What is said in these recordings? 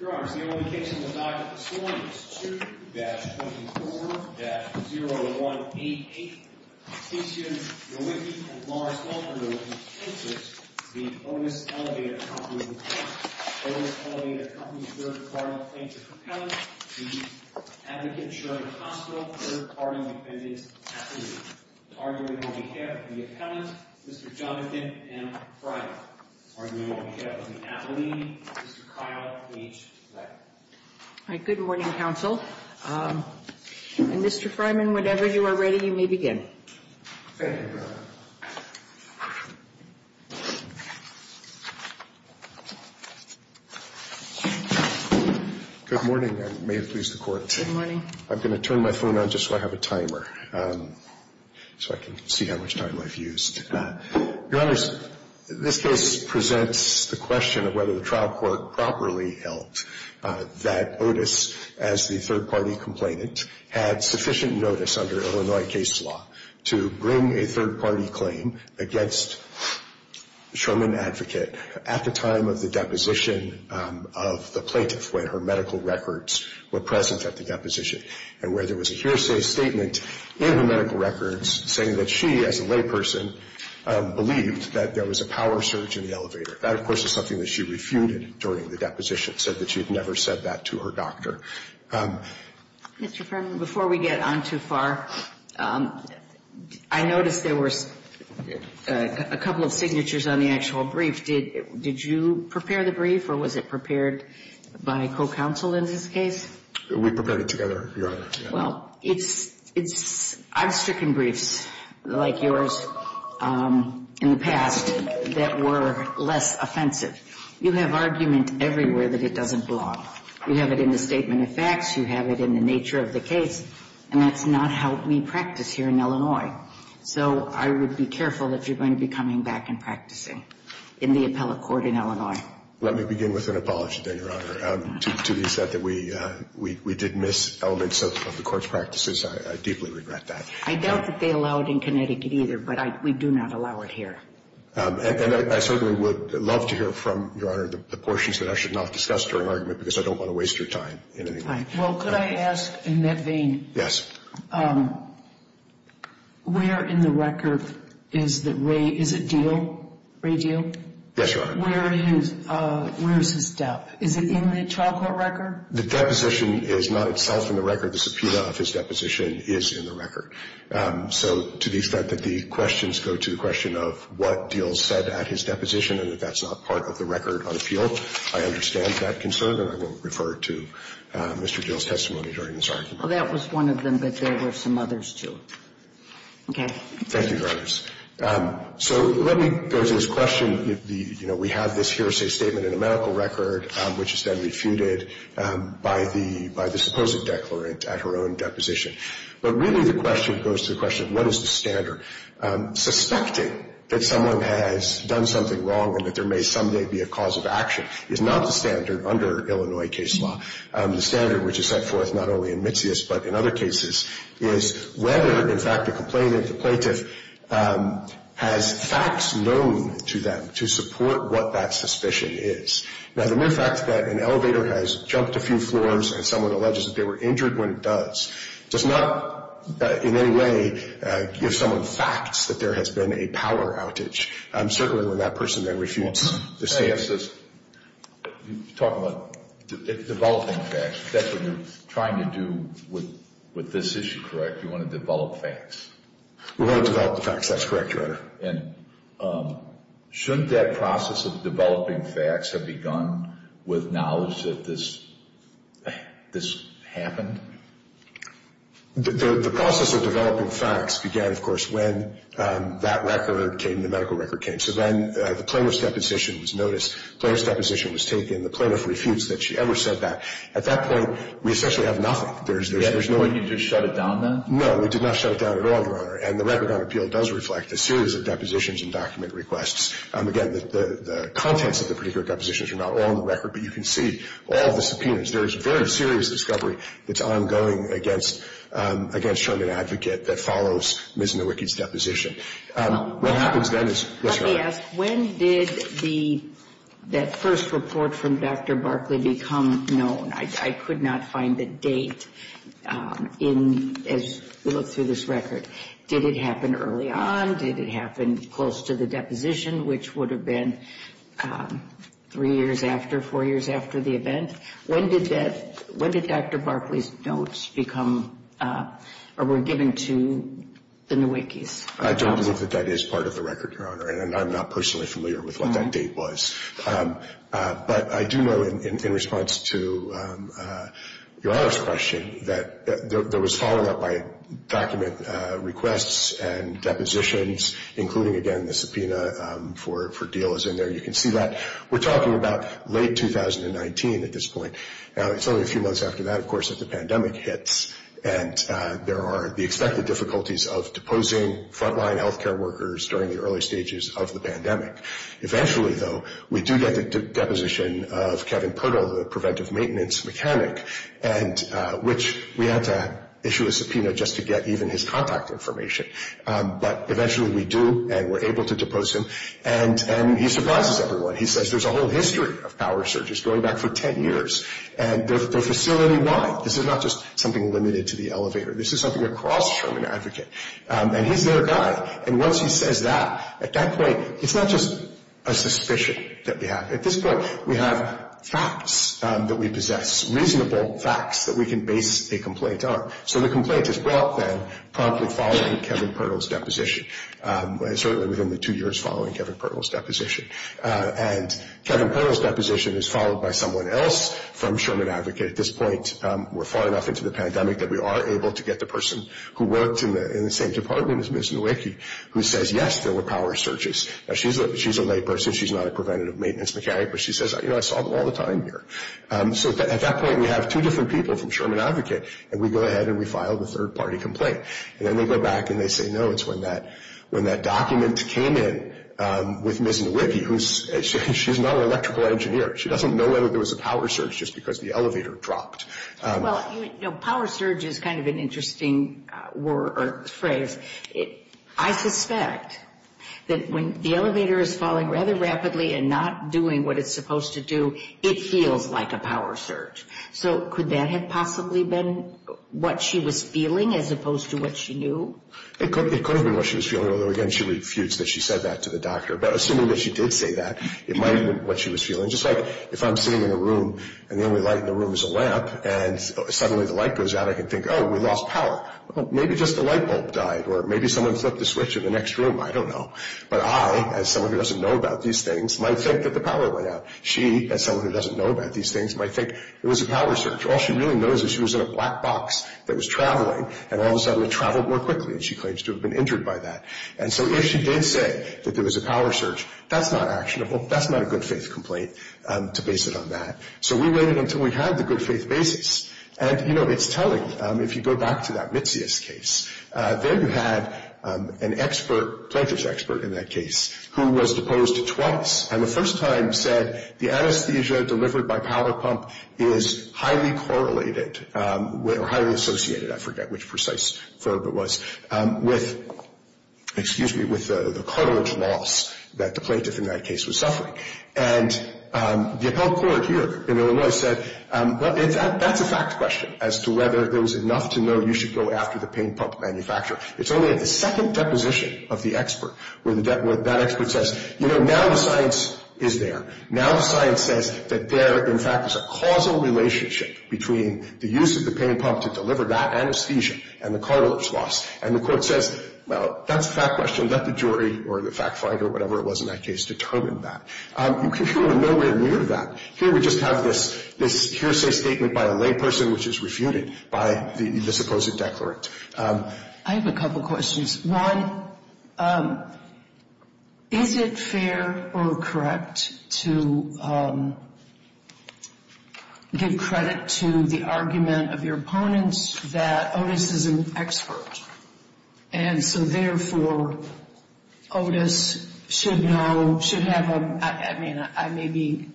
Your Honors, the only case in the docket this morning is 2-24-0188, Petitioner, Nowicki and Lawrence Walker v. Kinseth v. Otis Elevator Co. Otis Elevator Co. third-party plaintiff's appellant, the advocate, Sheridan Hospital, third-party defendant's attorney. Arguing on behalf of the appellant, Mr. Jonathan M. Fryman. Arguing on behalf of the attorney, Mr. Kyle H. Leck. All right. Good morning, counsel. And, Mr. Fryman, whenever you are ready, you may begin. Thank you, Your Honor. Good morning, and may it please the Court. Good morning. I'm going to turn my phone on just so I have a timer so I can see how much time I've used. Your Honors, this case presents the question of whether the trial court properly held that Otis, as the third-party complainant, had sufficient notice under Illinois case law to bring a third-party claim against Sherman Advocate at the time of the deposition of the plaintiff when her medical records were present at the deposition, and where there was a hearsay statement in her medical records saying that she, as a layperson, believed that there was a power surge in the elevator. That, of course, is something that she refuted during the deposition, said that she had never said that to her doctor. Mr. Fryman, before we get on too far, I noticed there were a couple of signatures on the actual brief. Did you prepare the brief, or was it prepared by co-counsel in this case? We prepared it together, Your Honor. Well, I've stricken briefs like yours in the past that were less offensive. You have argument everywhere that it doesn't belong. You have it in the statement of facts, you have it in the nature of the case, and that's not how we practice here in Illinois. So I would be careful if you're going to be coming back and practicing in the appellate court in Illinois. Let me begin with an apology then, Your Honor. To be said that we did miss elements of the court's practices, I deeply regret that. I doubt that they allow it in Connecticut either, but we do not allow it here. And I certainly would love to hear from, Your Honor, the portions that I should not discuss during argument because I don't want to waste your time. Well, could I ask in that vein? Where in the record is it Deal? Ray Deal? Yes, Your Honor. Where is his death? Is it in the trial court record? The deposition is not itself in the record. The subpoena of his deposition is in the record. So to the extent that the questions go to the question of what Deal said at his deposition and that that's not part of the record on appeal, I understand that concern, and I won't refer to Mr. Deal's testimony during this argument. Well, that was one of them, but there were some others, too. Okay. Thank you, Your Honors. So let me go to this question. You know, we have this hearsay statement in the medical record, which is then refuted by the supposed declarant at her own deposition. But really the question goes to the question of what is the standard. Suspecting that someone has done something wrong and that there may someday be a cause of action is not the standard under Illinois case law. The standard which is set forth not only in Mitzias but in other cases is whether, in fact, the complainant, the plaintiff, has facts known to them to support what that suspicion is. Now, the mere fact that an elevator has jumped a few floors and someone alleges that they were injured when it does does not in any way give someone facts that there has been a power outage. Certainly when that person then refutes the stance. You're talking about developing facts. That's what you're trying to do with this issue, correct? You want to develop facts. We want to develop the facts. That's correct, Your Honor. And shouldn't that process of developing facts have begun with knowledge that this happened? The process of developing facts began, of course, when that record came, when the medical record came. So then the plaintiff's deposition was noticed. The plaintiff's deposition was taken. The plaintiff refutes that she ever said that. At that point, we essentially have nothing. You just shut it down then? No, we did not shut it down at all, Your Honor. And the Record on Appeal does reflect a series of depositions and document requests. Again, the contents of the particular depositions are not all in the record, but you can see all the subpoenas. There is very serious discovery that's ongoing against Sherman Advocate that follows Ms. Nowicki's deposition. Let me ask, when did that first report from Dr. Barkley become known? I could not find the date as we looked through this record. Did it happen early on? Did it happen close to the deposition, which would have been three years after, four years after the event? When did Dr. Barkley's notes become or were given to the Nowickis? I don't believe that that is part of the record, Your Honor, and I'm not personally familiar with what that date was. But I do know, in response to Your Honor's question, that there was follow-up by document requests and depositions, including, again, the subpoena for deal is in there. You can see that. We're talking about late 2019 at this point. It's only a few months after that, of course, that the pandemic hits, and there are the expected difficulties of deposing frontline health care workers during the early stages of the pandemic. Eventually, though, we do get the deposition of Kevin Pirtle, the preventive maintenance mechanic, which we had to issue a subpoena just to get even his contact information. But eventually we do, and we're able to depose him, and he surprises everyone. He says there's a whole history of power surges going back for 10 years, and they're facility-wide. This is not just something limited to the elevator. This is something across Sherman Advocate, and he's their guy. And once he says that, at that point, it's not just a suspicion that we have. At this point, we have facts that we possess, reasonable facts that we can base a complaint on. So the complaint is brought then promptly following Kevin Pirtle's deposition, certainly within the two years following Kevin Pirtle's deposition. And Kevin Pirtle's deposition is followed by someone else from Sherman Advocate. At this point, we're far enough into the pandemic that we are able to get the person who worked in the same department as Ms. Nowicki, who says, yes, there were power surges. Now, she's a layperson. She's not a preventative maintenance mechanic, but she says, you know, I saw them all the time here. So at that point, we have two different people from Sherman Advocate, and we go ahead and we file the third-party complaint. And then they go back and they say, no, it's when that document came in with Ms. Nowicki. She's not an electrical engineer. She doesn't know whether there was a power surge just because the elevator dropped. Well, you know, power surge is kind of an interesting phrase. I suspect that when the elevator is falling rather rapidly and not doing what it's supposed to do, it feels like a power surge. So could that have possibly been what she was feeling as opposed to what she knew? It could have been what she was feeling, although, again, she refutes that she said that to the doctor. But assuming that she did say that, it might have been what she was feeling. Just like if I'm sitting in a room and the only light in the room is a lamp and suddenly the light goes out, I can think, oh, we lost power. Maybe just the light bulb died or maybe someone flipped a switch in the next room. I don't know. But I, as someone who doesn't know about these things, might think that the power went out. She, as someone who doesn't know about these things, might think it was a power surge. All she really knows is she was in a black box that was traveling, and all of a sudden it traveled more quickly, and she claims to have been injured by that. And so if she did say that there was a power surge, that's not actionable. That's not a good-faith complaint to base it on that. So we waited until we had the good-faith basis. And, you know, it's telling. If you go back to that Mitzias case, there you had an expert, a plaintiff's expert in that case, who was deposed twice and the first time said the anesthesia delivered by power pump is highly correlated or highly associated, I forget which precise verb it was, with the cartilage loss that the plaintiff in that case was suffering. And the appellate court here in Illinois said, well, that's a fact question as to whether there was enough to know you should go after the pain pump manufacturer. It's only at the second deposition of the expert where that expert says, you know, now the science is there. The use of the pain pump to deliver that anesthesia and the cartilage loss. And the court says, well, that's a fact question. Let the jury or the fact finder or whatever it was in that case determine that. You can show them nowhere near that. Here we just have this hearsay statement by a layperson which is refuted by the supposed declarant. I have a couple questions. One, is it fair or correct to give credit to the argument of your opponents that Otis is an expert? And so, therefore, Otis should know, should have a, I mean, I may be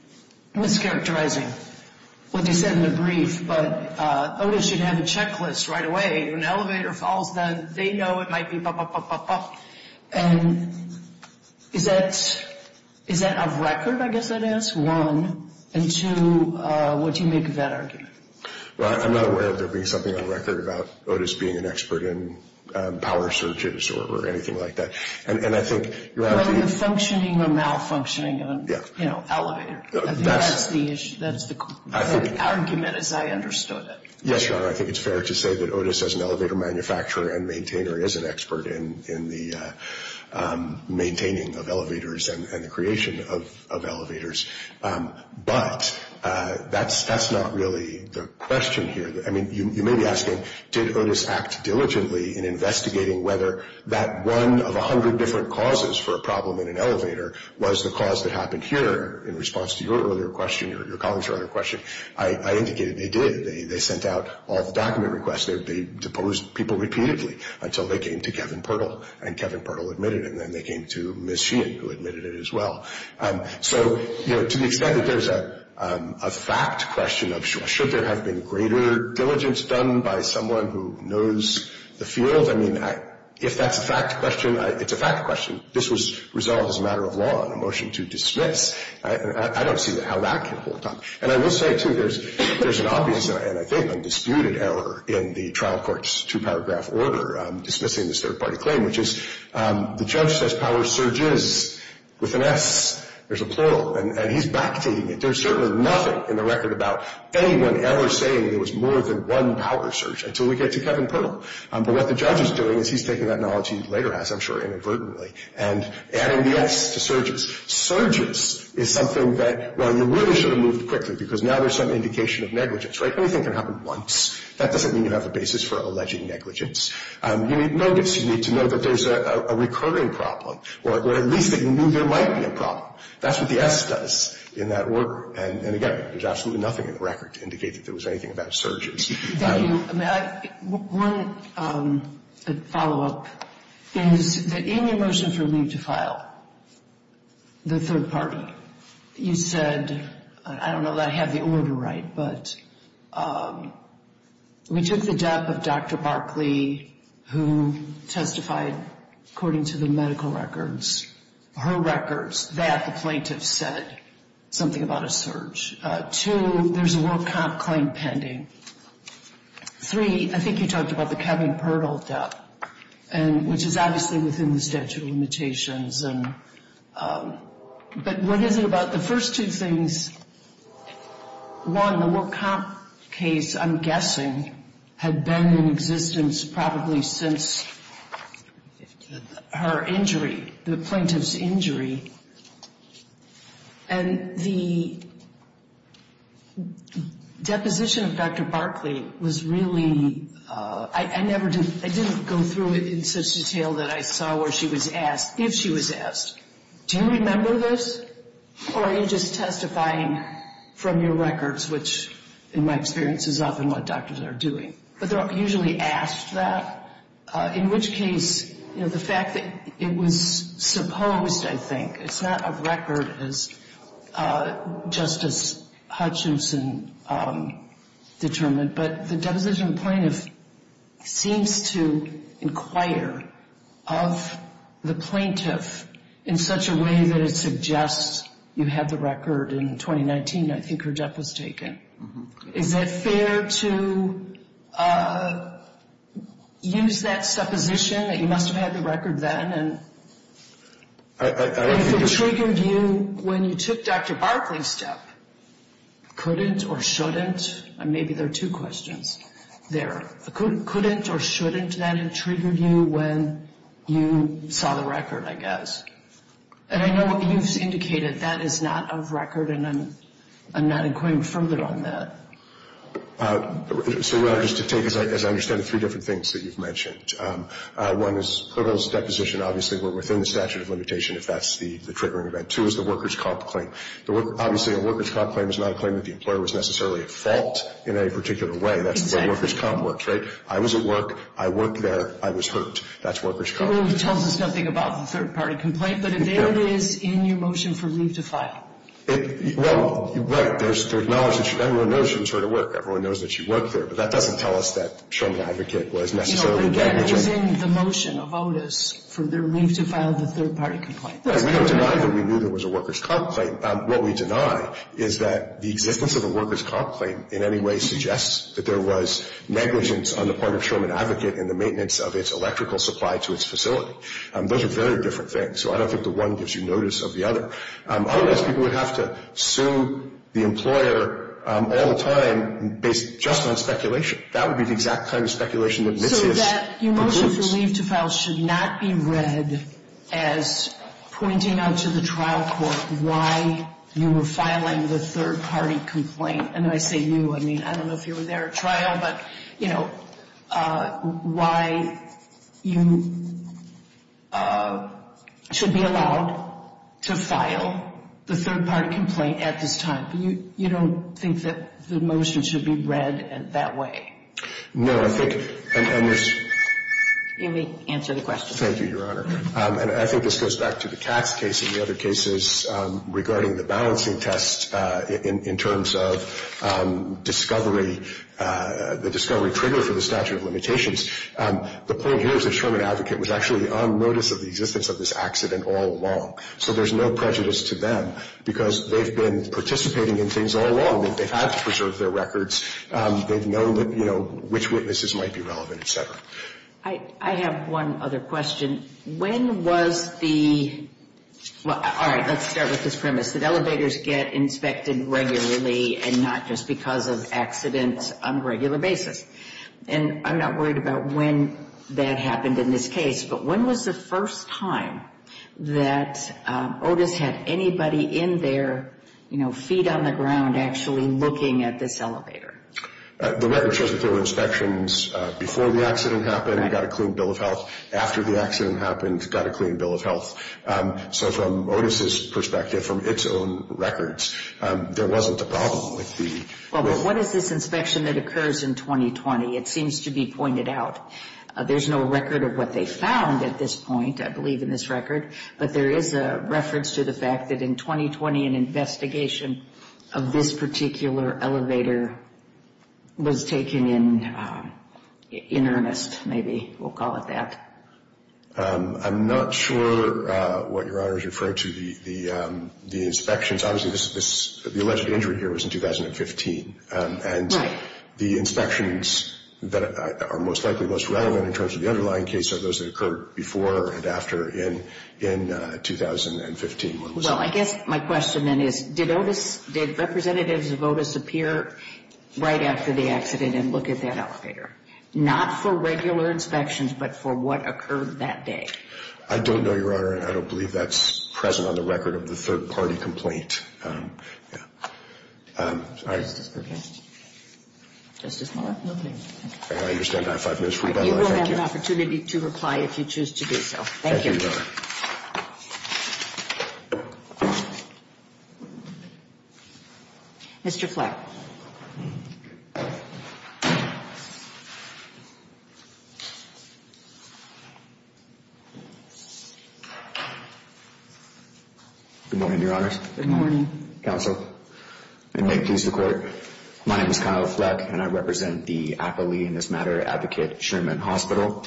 mischaracterizing what they said in the brief, but Otis should have a checklist right away. When an elevator falls, then they know it might be bop, bop, bop, bop, bop. And is that of record, I guess it is? And two, what do you make of that argument? Well, I'm not aware of there being something on record about Otis being an expert in power searches or anything like that. And I think you're asking – Whether you're functioning or malfunctioning on, you know, elevator. I think that's the issue. That's the argument as I understood it. Yes, Your Honor. I think it's fair to say that Otis as an elevator manufacturer and maintainer is an expert in the maintaining of elevators and the creation of elevators. But that's not really the question here. I mean, you may be asking, did Otis act diligently in investigating whether that one of a hundred different causes for a problem in an elevator was the cause that happened here in response to your earlier question, your colleagues' earlier question. I indicated they did. They sent out all the document requests. They deposed people repeatedly until they came to Kevin Pirtle, and Kevin Pirtle admitted it. And then they came to Ms. Sheehan, who admitted it as well. So, you know, to the extent that there's a fact question of, should there have been greater diligence done by someone who knows the field? I mean, if that's a fact question, it's a fact question. This was resolved as a matter of law in a motion to dismiss. I don't see how that can hold up. And I will say, too, there's an obvious and I think undisputed error in the trial court's two-paragraph order dismissing this third-party claim, which is the judge says power surges with an S. There's a plural, and he's backtating it. There's certainly nothing in the record about anyone ever saying there was more than one power surge until we get to Kevin Pirtle. But what the judge is doing is he's taking that knowledge he later has, I'm sure, inadvertently, and adding the S to surges. Surges is something that, well, you really should have moved quickly, because now there's some indication of negligence, right? Anything can happen once. That doesn't mean you have a basis for alleged negligence. You need notice. You need to know that there's a recurring problem, or at least that you knew there might be a problem. That's what the S does in that order. And again, there's absolutely nothing in the record to indicate that there was anything about surges. Thank you. One follow-up is that in your motion for leave to file, the third party, you said, I don't know that I have the order right, but we took the death of Dr. Barkley, who testified according to the medical records, her records, that the plaintiff said something about a surge. Two, there's a World Comp claim pending. Three, I think you talked about the cabin portal death, which is obviously within the statute of limitations. But what is it about the first two things? One, the World Comp case, I'm guessing, had been in existence probably since her injury, the plaintiff's injury. And the deposition of Dr. Barkley was really, I didn't go through it in such detail that I saw where she was asked, if she was asked, do you remember this, or are you just testifying from your records, which in my experience is often what doctors are doing. But they're usually asked that, in which case the fact that it was supposed, I think, it's not a record as Justice Hutchinson determined, but the deposition plaintiff seems to inquire of the plaintiff in such a way that it suggests you have the record in 2019, I think her death was taken. Is it fair to use that supposition that you must have had the record then, and if it triggered you when you took Dr. Barkley's step, couldn't or shouldn't? Maybe there are two questions there. Couldn't or shouldn't that have triggered you when you saw the record, I guess? And I know what you've indicated, that is not of record, and I'm not inquiring further on that. So, just to take, as I understand it, three different things that you've mentioned. One is, Clivell's deposition, obviously, were within the statute of limitation if that's the triggering event. Two is the workers' comp claim. Obviously, a workers' comp claim is not a claim that the employer was necessarily at fault in any particular way. That's the way workers' comp works, right? I was at work, I worked there, I was hurt. That's workers' comp. That really tells us nothing about the third-party complaint, but there it is in your motion for leave to file. Well, right, there's acknowledgment. Everyone knows she was hurt at work, everyone knows that she worked there, but that doesn't tell us that Sherman Advocate was necessarily negligent. No, but again, it was in the motion of Otis for their leave to file the third-party complaint. Right, we don't deny that we knew there was a workers' comp claim. What we deny is that the existence of a workers' comp claim in any way suggests that there was negligence on the part of Sherman Advocate in the maintenance of its electrical supply to its facility. Those are very different things. So I don't think the one gives you notice of the other. Otherwise, people would have to sue the employer all the time based just on speculation. That would be the exact kind of speculation that Mitzius includes. So that your motion for leave to file should not be read as pointing out to the trial court why you were filing the third-party complaint. And when I say you, I mean, I don't know if you were there at trial, but, you know, why you should be allowed to file the third-party complaint at this time. You don't think that the motion should be read that way? No, I think, and there's... Let me answer the question. Thank you, Your Honor. And I think this goes back to the Katz case and the other cases regarding the balancing test in terms of discovery, the discovery trigger for the statute of limitations. The point here is that Sherman Advocate was actually on notice of the existence of this accident all along. So there's no prejudice to them because they've been participating in things all along. They've had to preserve their records. They've known, you know, which witnesses might be relevant, et cetera. I have one other question. When was the... Well, all right, let's start with this premise, that elevators get inspected regularly and not just because of accidents on a regular basis. And I'm not worried about when that happened in this case, but when was the first time that Otis had anybody in there, you know, feet on the ground actually looking at this elevator? The record shows that there were inspections before the accident happened. He got a clean bill of health. After the accident happened, he got a clean bill of health. So from Otis' perspective, from its own records, there wasn't a problem with the... Well, but what is this inspection that occurs in 2020? It seems to be pointed out. There's no record of what they found at this point, I believe, in this record, but there is a reference to the fact that in 2020, an investigation of this particular elevator was taken in earnest, maybe. We'll call it that. I'm not sure what Your Honor is referring to, the inspections. Obviously, the alleged injury here was in 2015. Right. And the inspections that are most likely most relevant in terms of the underlying case are those that occurred before and after in 2015. Well, I guess my question then is, did representatives of Otis appear right after the accident and look at that elevator? Not for regular inspections, but for what occurred that day. I don't know, Your Honor, and I don't believe that's present on the record of the third-party complaint. Justice Perkins? Justice Mueller? I understand I have five minutes for rebuttal. You will have an opportunity to reply if you choose to do so. Thank you. Mr. Fleck? Good morning, Your Honors. Good morning. Counsel, and may it please the Court, My name is Kyle Fleck, and I represent the Apple Lead in this matter advocate, Sherman Hospital.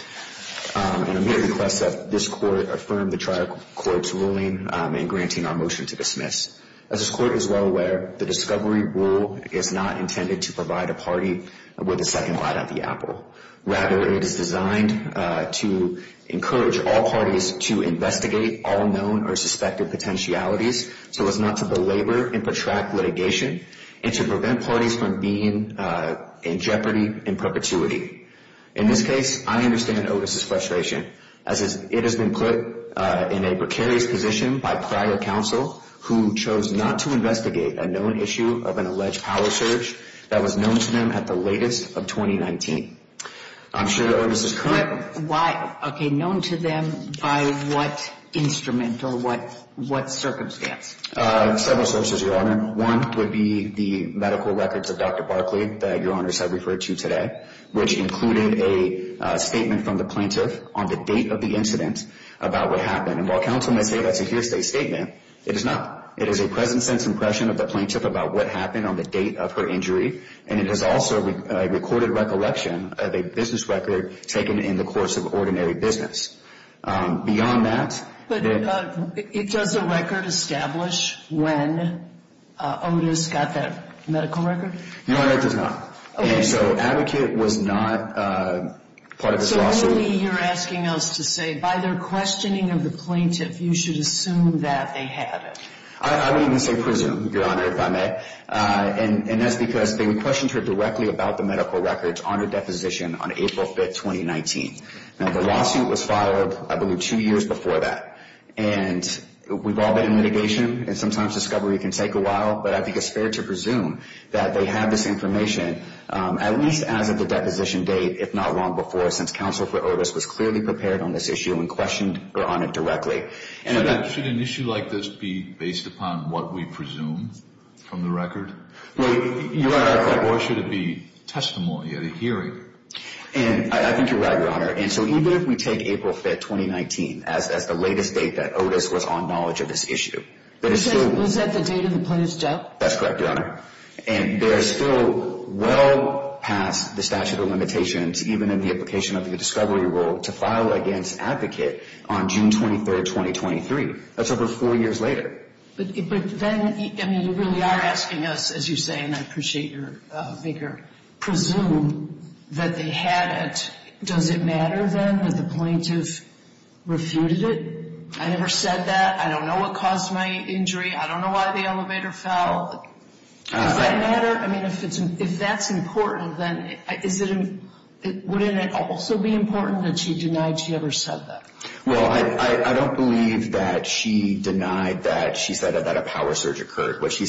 And I'm here to request that this Court affirm the trial court's ruling in granting our motion to dismiss. As this Court is well aware, the discovery rule is not intended to provide a party with a second light on the apple. Rather, it is designed to encourage all parties to investigate all known or suspected potentialities so as not to belabor and protract litigation and to prevent parties from being in jeopardy in perpetuity. In this case, I understand Otis's frustration, as it has been put in a precarious position by prior counsel who chose not to investigate a known issue of an alleged power surge that was known to them at the latest of 2019. I'm sure that Otis is currently But why? Okay, known to them by what instrument or what circumstance? Several sources, Your Honor. One would be the medical records of Dr. Barkley that Your Honor has referred to today, which included a statement from the plaintiff on the date of the incident about what happened. And while counsel may say that's a hearsay statement, it is not. It is a present-sense impression of the plaintiff about what happened on the date of her injury, and it is also a recorded recollection of a business record taken in the course of ordinary business. Beyond that, But does the record establish when Otis got that medical record? No, Your Honor, it does not. Okay. And so Advocate was not part of this lawsuit. So really you're asking us to say by their questioning of the plaintiff, you should assume that they had it. I would even say presume, Your Honor, if I may. And that's because they would question her directly about the medical records on her deposition on April 5, 2019. Now, the lawsuit was filed, I believe, two years before that. And we've all been in litigation, and sometimes discovery can take a while, but I think it's fair to presume that they had this information, at least as of the deposition date, if not long before, since counsel for Otis was clearly prepared on this issue and questioned her on it directly. Should an issue like this be based upon what we presume from the record? Well, Your Honor. Or should it be testimony at a hearing? I think you're right, Your Honor. And so even if we take April 5, 2019 as the latest date that Otis was on knowledge of this issue. Was that the date of the plaintiff's death? That's correct, Your Honor. And they're still well past the statute of limitations, even in the application of the discovery rule, to file against Advocate on June 23, 2023. That's over four years later. But then you really are asking us, as you say, and I appreciate your vigor, presume that they had it. Does it matter, then, that the plaintiff refuted it? I never said that. I don't know what caused my injury. I don't know why the elevator fell. Does that matter? I mean, if that's important, then wouldn't it also be important that she denied she ever said that? Well, I don't believe that she denied that she said that a power surge occurred. What she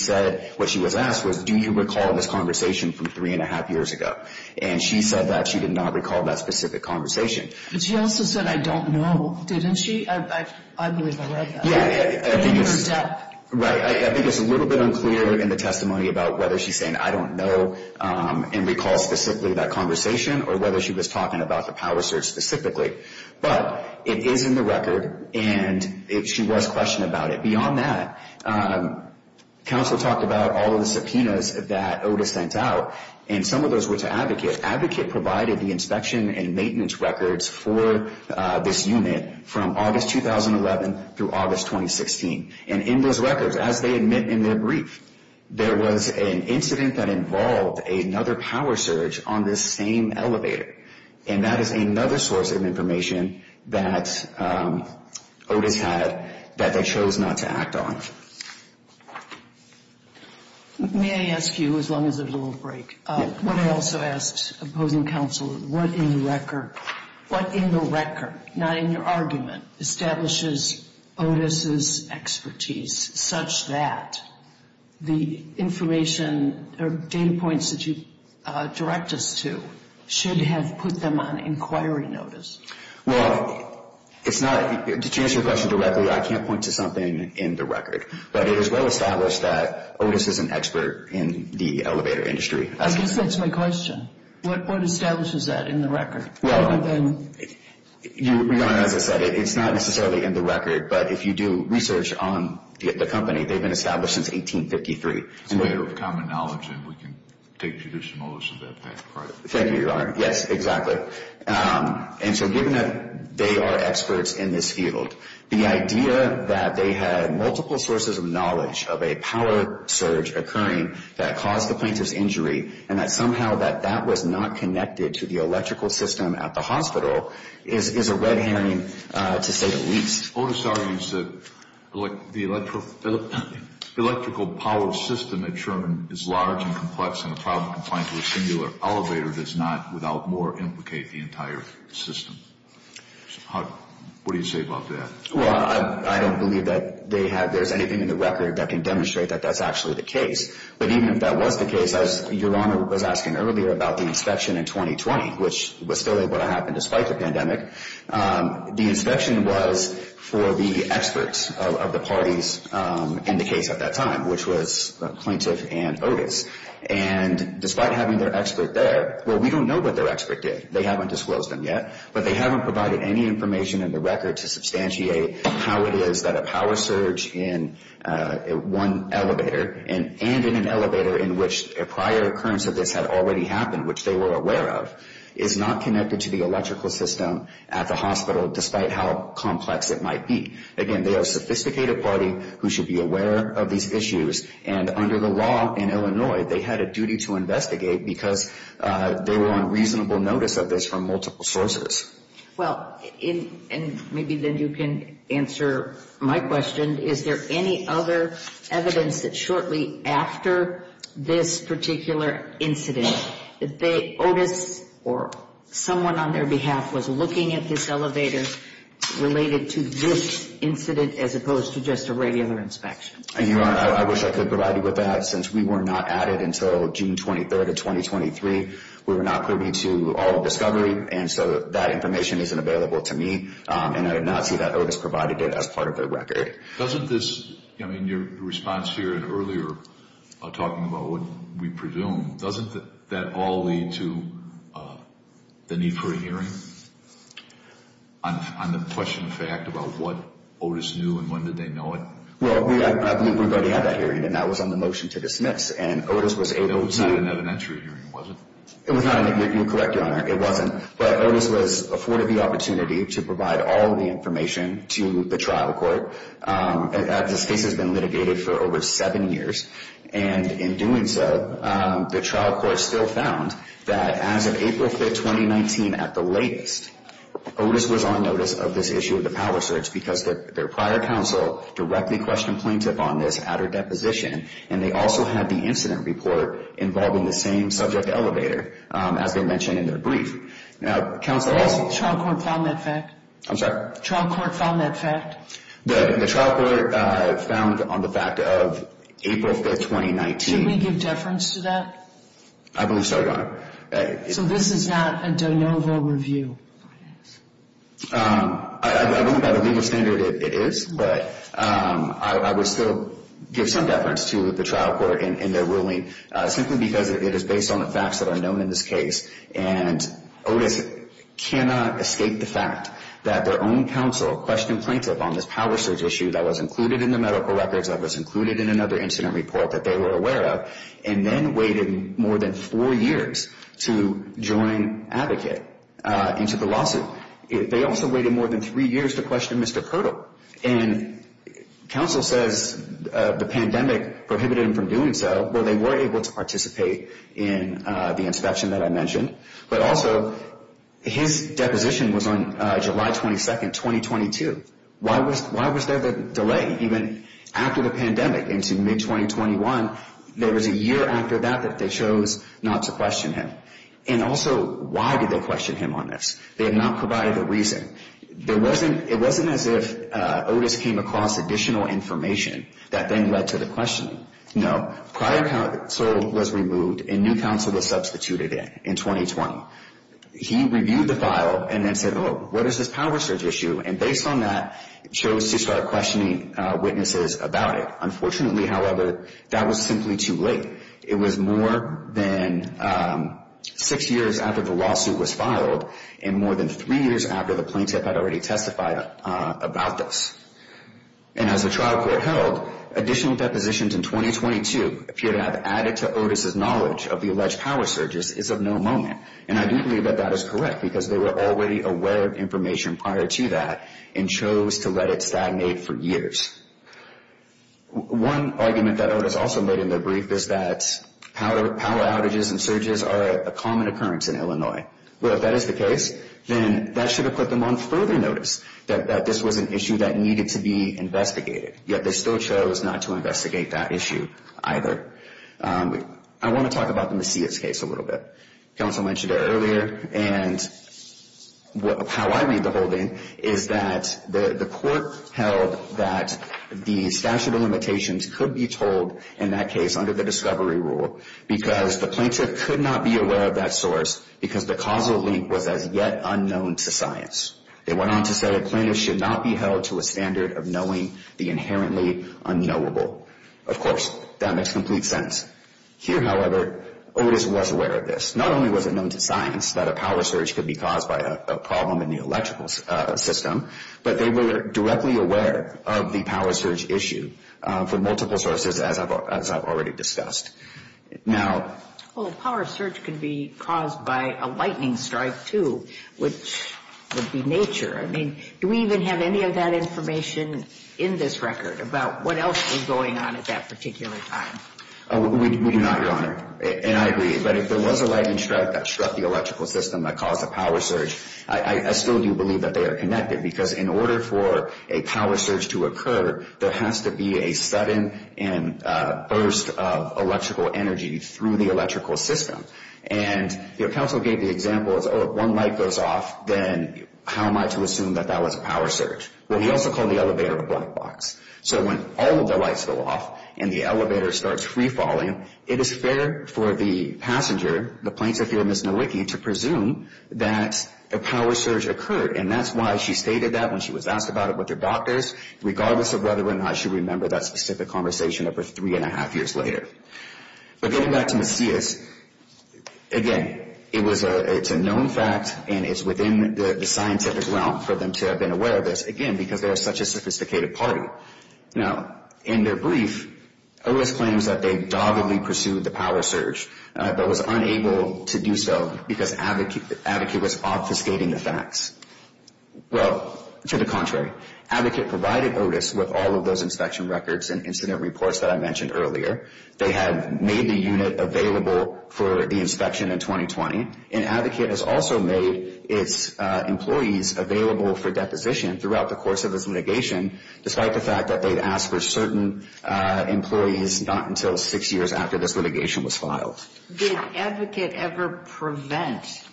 was asked was, do you recall this conversation from three and a half years ago? And she said that she did not recall that specific conversation. But she also said, I don't know, didn't she? I believe I read that. Yeah, I think it's a little bit unclear in the testimony about whether she's saying, I don't know, and recalls specifically that conversation, or whether she was talking about the power surge specifically. But it is in the record, and she was questioning about it. Counsel talked about all of the subpoenas that Otis sent out, and some of those were to Advocate. Advocate provided the inspection and maintenance records for this unit from August 2011 through August 2016. And in those records, as they admit in their brief, there was an incident that involved another power surge on this same elevator. And that is another source of information that Otis had that they chose not to act on. May I ask you, as long as there's a little break, what I also ask opposing counsel, what in the record, not in your argument, establishes Otis's expertise such that the information or data points that you direct us to should have put them on inquiry notice? Well, it's not, to answer your question directly, I can't point to something in the record. But it is well established that Otis is an expert in the elevator industry. I guess that's my question. What establishes that in the record? Well, your Honor, as I said, it's not necessarily in the record, but if you do research on the company, they've been established since 1853. It's a matter of common knowledge, and we can take judicial notice of that fact. Thank you, Your Honor. Yes, exactly. And so given that they are experts in this field, the idea that they had multiple sources of knowledge of a power surge occurring that caused the plaintiff's injury, and that somehow that that was not connected to the electrical system at the hospital, is a red herring to say the least. Otis argues that the electrical power system at Sherman is large and complex and a problem confined to a singular elevator does not, without more, implicate the entire system. What do you say about that? Well, I don't believe that there's anything in the record that can demonstrate that that's actually the case. But even if that was the case, as Your Honor was asking earlier about the inspection in 2020, which was still able to happen despite the pandemic, the inspection was for the experts of the parties in the case at that time, which was the plaintiff and Otis. And despite having their expert there, well, we don't know what their expert did. They haven't disclosed them yet, but they haven't provided any information in the record to substantiate how it is that a power surge in one elevator and in an elevator in which a prior occurrence of this had already happened, which they were aware of, is not connected to the electrical system at the hospital, despite how complex it might be. Again, they are a sophisticated party who should be aware of these issues. And under the law in Illinois, they had a duty to investigate because they were on reasonable notice of this from multiple sources. Well, and maybe then you can answer my question. Is there any other evidence that shortly after this particular incident that Otis or someone on their behalf was looking at this elevator related to this incident as opposed to just a regular inspection? Your Honor, I wish I could provide you with that. Since we were not at it until June 23rd of 2023, we were not privy to all the discovery. And so that information isn't available to me. And I did not see that Otis provided it as part of their record. Doesn't this, I mean, your response here earlier talking about what we presume, doesn't that all lead to the need for a hearing on the question of fact about what Otis knew and when did they know it? Well, I believe we've already had that hearing, and that was on the motion to dismiss. And Otis was able to… It was not an evidentiary hearing, was it? You're correct, Your Honor. It wasn't. But Otis was afforded the opportunity to provide all of the information to the trial court. This case has been litigated for over seven years. And in doing so, the trial court still found that as of April 5th, 2019, at the latest, Otis was on notice of this issue of the power search because their prior counsel directly questioned plaintiff on this at her deposition. And they also had the incident report involving the same subject elevator, as they mentioned in their brief. Now, counsel… Has the trial court found that fact? I'm sorry? Trial court found that fact? The trial court found on the fact of April 5th, 2019… Should we give deference to that? I believe so, Your Honor. So this is not a de novo review? I believe by the legal standard it is, but I would still give some deference to the trial court in their ruling, simply because it is based on the facts that are known in this case. And Otis cannot escape the fact that their own counsel questioned plaintiff on this power search issue that was included in the medical records, that was included in another incident report that they were aware of, and then waited more than four years to join Advocate into the lawsuit. They also waited more than three years to question Mr. Kirtle. And counsel says the pandemic prohibited him from doing so, but they were able to participate in the inspection that I mentioned. But also, his deposition was on July 22nd, 2022. Why was there the delay? Even after the pandemic, into mid-2021, there was a year after that that they chose not to question him. And also, why did they question him on this? They had not provided a reason. It wasn't as if Otis came across additional information that then led to the questioning. No, prior counsel was removed and new counsel was substituted in, in 2020. He reviewed the file and then said, oh, what is this power search issue? And based on that, chose to start questioning witnesses about it. Unfortunately, however, that was simply too late. It was more than six years after the lawsuit was filed and more than three years after the plaintiff had already testified about this. And as the trial court held, additional depositions in 2022 appear to have added to Otis' knowledge of the alleged power searches is of no moment. And I do believe that that is correct because they were already aware of information prior to that and chose to let it stagnate for years. One argument that Otis also made in the brief is that power outages and surges are a common occurrence in Illinois. Well, if that is the case, then that should have put them on further notice that this was an issue that needed to be investigated. Yet they still chose not to investigate that issue either. I want to talk about the Macias case a little bit. Counsel mentioned it earlier and how I read the whole thing is that the court held that the statute of limitations could be told in that case under the discovery rule because the plaintiff could not be aware of that source because the causal link was as yet unknown to science. They went on to say the plaintiff should not be held to a standard of knowing the inherently unknowable. Of course, that makes complete sense. Here, however, Otis was aware of this. Not only was it known to science that a power surge could be caused by a problem in the electrical system, but they were directly aware of the power surge issue for multiple sources, as I've already discussed. Now... Well, a power surge could be caused by a lightning strike, too, which would be nature. I mean, do we even have any of that information in this record about what else was going on at that particular time? We do not, Your Honor, and I agree. But if there was a lightning strike that struck the electrical system that caused a power surge, I still do believe that they are connected because in order for a power surge to occur, there has to be a sudden burst of electrical energy through the electrical system. And counsel gave the example, oh, if one light goes off, then how am I to assume that that was a power surge? Well, he also called the elevator a black box. So when all of the lights go off and the elevator starts free-falling, it is fair for the passenger, the plaintiff here, Ms. Nowicki, to presume that a power surge occurred. And that's why she stated that when she was asked about it with her doctors, regardless of whether or not she remembered that specific conversation of her three and a half years later. But getting back to Macias, again, it's a known fact, and it's within the scientific realm for them to have been aware of this, again, because they are such a sophisticated party. Now, in their brief, Otis claims that they doggedly pursued the power surge, but was unable to do so because the advocate was obfuscating the facts. Well, to the contrary. Advocate provided Otis with all of those inspection records and incident reports that I mentioned earlier. They had made the unit available for the inspection in 2020. And Advocate has also made its employees available for deposition throughout the course of this litigation, despite the fact that they'd asked for certain employees not until six years after this litigation was filed. Did Advocate ever prevent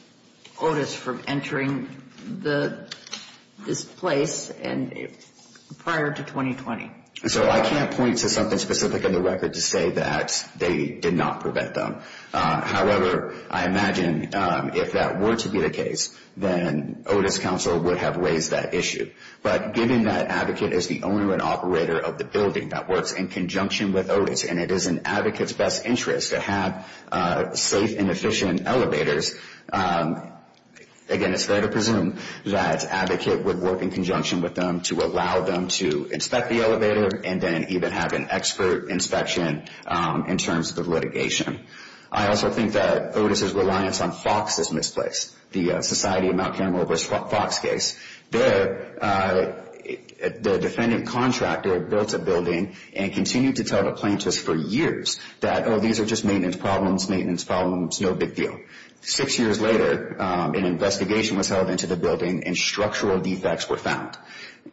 Otis from entering this place prior to 2020? So I can't point to something specific in the record to say that they did not prevent them. However, I imagine if that were to be the case, then Otis Council would have raised that issue. But given that Advocate is the owner and operator of the building that works in conjunction with Otis, and it is in Advocate's best interest to have safe and efficient elevators, again, it's fair to presume that Advocate would work in conjunction with them to allow them to inspect the elevator and then even have an expert inspection in terms of the litigation. I also think that Otis's reliance on Fox is misplaced, the Society of Mount Carmel versus Fox case. Their defendant contractor built a building and continued to tell the plaintiffs for years that, oh, these are just maintenance problems, maintenance problems, no big deal. Six years later, an investigation was held into the building and structural defects were found.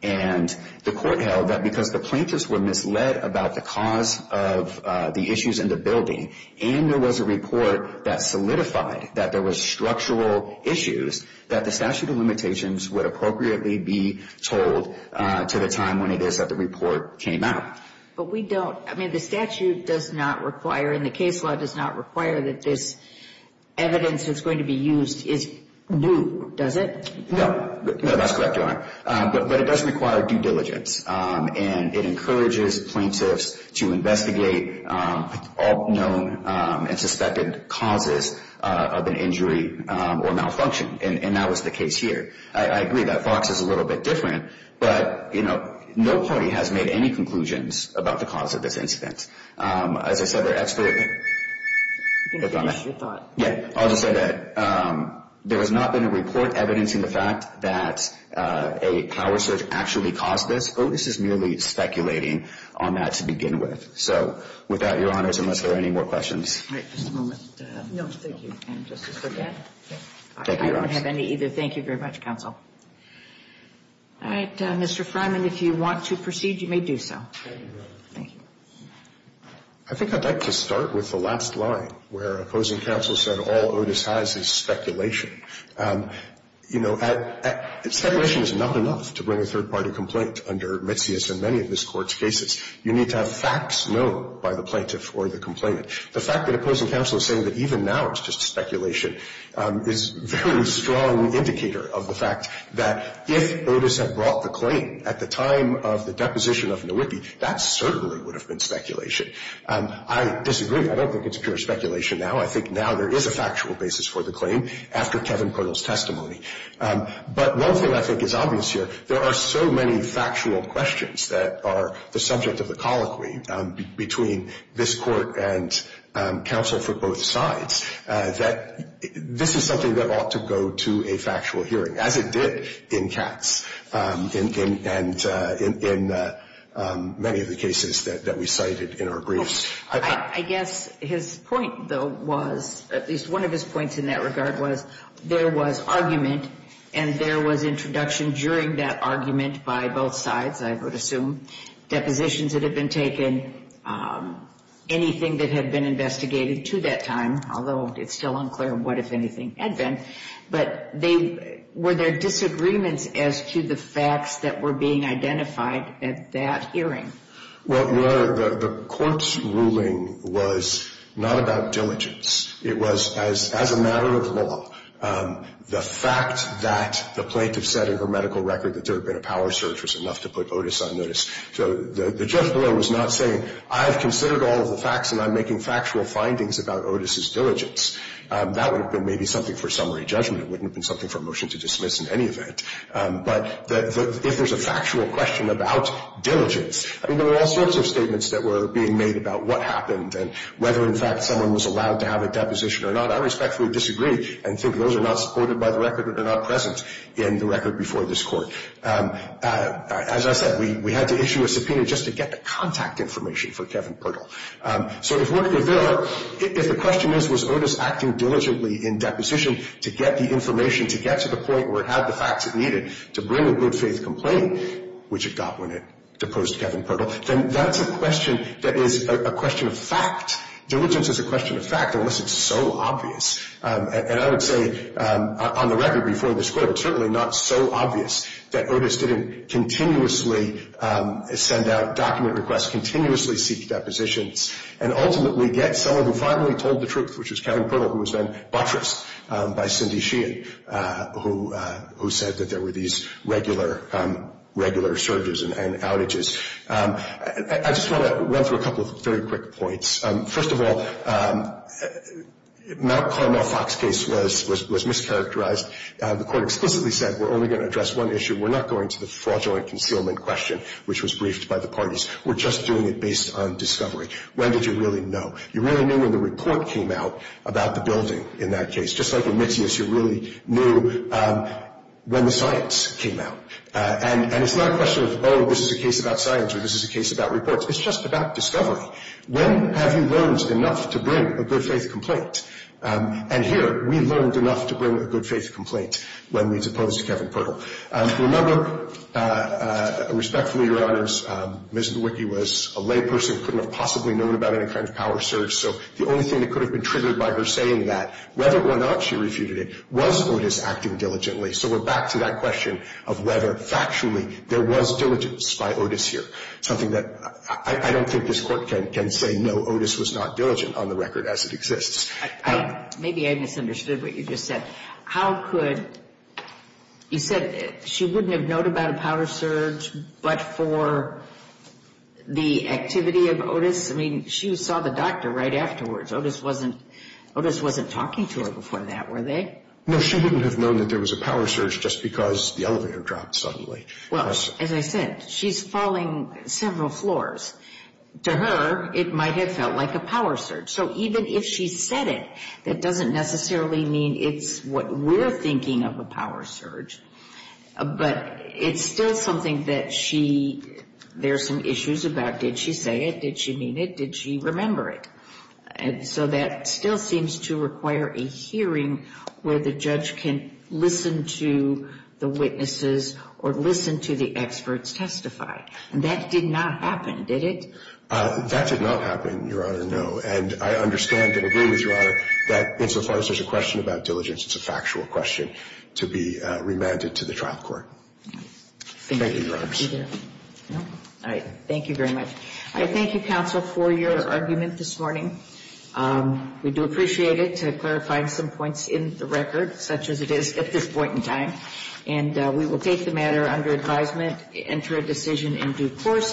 And the court held that because the plaintiffs were misled about the cause of the issues in the building and there was a report that solidified that there were structural issues, that the statute of limitations would appropriately be told to the time when it is that the report came out. But we don't, I mean, the statute does not require, and the case law does not require that this evidence that's going to be used is new, does it? No. No, that's correct, Your Honor. But it does require due diligence, and it encourages plaintiffs to investigate all known and suspected causes of an injury or malfunction. And that was the case here. I agree that Fox is a little bit different. But, you know, no party has made any conclusions about the cause of this incident. As I said, there are experts on that. I'll just say that there has not been a report evidencing the fact that a power surge actually caused this. Otis is merely speculating on that to begin with. So with that, Your Honors, unless there are any more questions. All right. Just a moment. No, thank you. And just to forget, I don't have any either. Thank you very much, counsel. All right. Mr. Freiman, if you want to proceed, you may do so. Thank you. I think I'd like to start with the last line, where opposing counsel said all Otis has is speculation. You know, speculation is not enough to bring a third-party complaint under Metsios and many of this Court's cases. You need to have facts known by the plaintiff or the complainant. The fact that opposing counsel is saying that even now it's just speculation is a very strong indicator of the fact that if Otis had brought the claim at the time of the deposition of Nowicki, that certainly would have been speculation. I disagree. I don't think it's pure speculation now. I think now there is a factual basis for the claim after Kevin Coyle's testimony. But one thing I think is obvious here, there are so many factual questions that are the subject of the colloquy between this Court and counsel for both sides, that this is something that ought to go to a factual hearing, as it did in Katz and in many of the cases that we cited in our briefs. I guess his point, though, was at least one of his points in that regard was there was argument and there was introduction during that argument by both sides, I would assume, depositions that had been taken, anything that had been investigated to that time, although it's still unclear what, if anything, had been. But were there disagreements as to the facts that were being identified at that hearing? Well, the Court's ruling was not about diligence. It was, as a matter of law, the fact that the plaintiff said in her medical record that there had been a power surge was enough to put Otis on notice. So the judge below was not saying, I have considered all of the facts and I'm making factual findings about Otis's diligence. That would have been maybe something for summary judgment. It wouldn't have been something for a motion to dismiss in any event. But if there's a factual question about diligence, I mean, there were all sorts of statements that were being made about what happened and whether, in fact, someone was allowed to have a deposition or not. And I respectfully disagree and think those are not supported by the record or they're not present in the record before this Court. As I said, we had to issue a subpoena just to get the contact information for Kevin Pirtle. So if the question is, was Otis acting diligently in deposition to get the information, to get to the point where it had the facts it needed to bring a good-faith complaint, which it got when it deposed Kevin Pirtle, then that's a question that is a question of fact. Diligence is a question of fact unless it's so obvious. And I would say on the record before this Court, it's certainly not so obvious that Otis didn't continuously send out document requests, continuously seek depositions, and ultimately get someone who finally told the truth, which was Kevin Pirtle, who was then buttressed by Cindy Sheehan, who said that there were these regular surges and outages. I just want to run through a couple of very quick points. First of all, Mount Carmel-Fox case was mischaracterized. The Court explicitly said we're only going to address one issue. We're not going to the fraudulent concealment question, which was briefed by the parties. We're just doing it based on discovery. When did you really know? You really knew when the report came out about the building in that case. Just like in Mitius, you really knew when the science came out. And it's not a question of, oh, this is a case about science or this is a case about reports. It's just about discovery. When have you learned enough to bring a good-faith complaint? And here, we learned enough to bring a good-faith complaint when it's opposed to Kevin Pirtle. Remember, respectfully, Your Honors, Ms. Bewicky was a layperson who couldn't have possibly known about any kind of power surge, so the only thing that could have been triggered by her saying that, whether or not she refuted it, was Otis acting diligently. So we're back to that question of whether, factually, there was diligence by Otis here, something that I don't think this Court can say, no, Otis was not diligent on the record as it exists. Maybe I misunderstood what you just said. How could you say she wouldn't have known about a power surge but for the activity of Otis? I mean, she saw the doctor right afterwards. Otis wasn't talking to her before that, were they? No, she wouldn't have known that there was a power surge just because the elevator dropped suddenly. Well, as I said, she's falling several floors. To her, it might have felt like a power surge. So even if she said it, that doesn't necessarily mean it's what we're thinking of a power surge, but it's still something that she – there are some issues about did she say it, did she mean it, did she remember it. And so that still seems to require a hearing where the judge can listen to the witnesses or listen to the experts testify. And that did not happen, did it? That did not happen, Your Honor, no. And I understand and agree with Your Honor that insofar as there's a question about diligence, it's a factual question to be remanded to the trial court. Thank you very much. All right. Thank you very much. I thank you, counsel, for your argument this morning. We do appreciate it to clarify some points in the record, such as it is at this point in time. And we will take the matter under advisement, enter a decision in due course.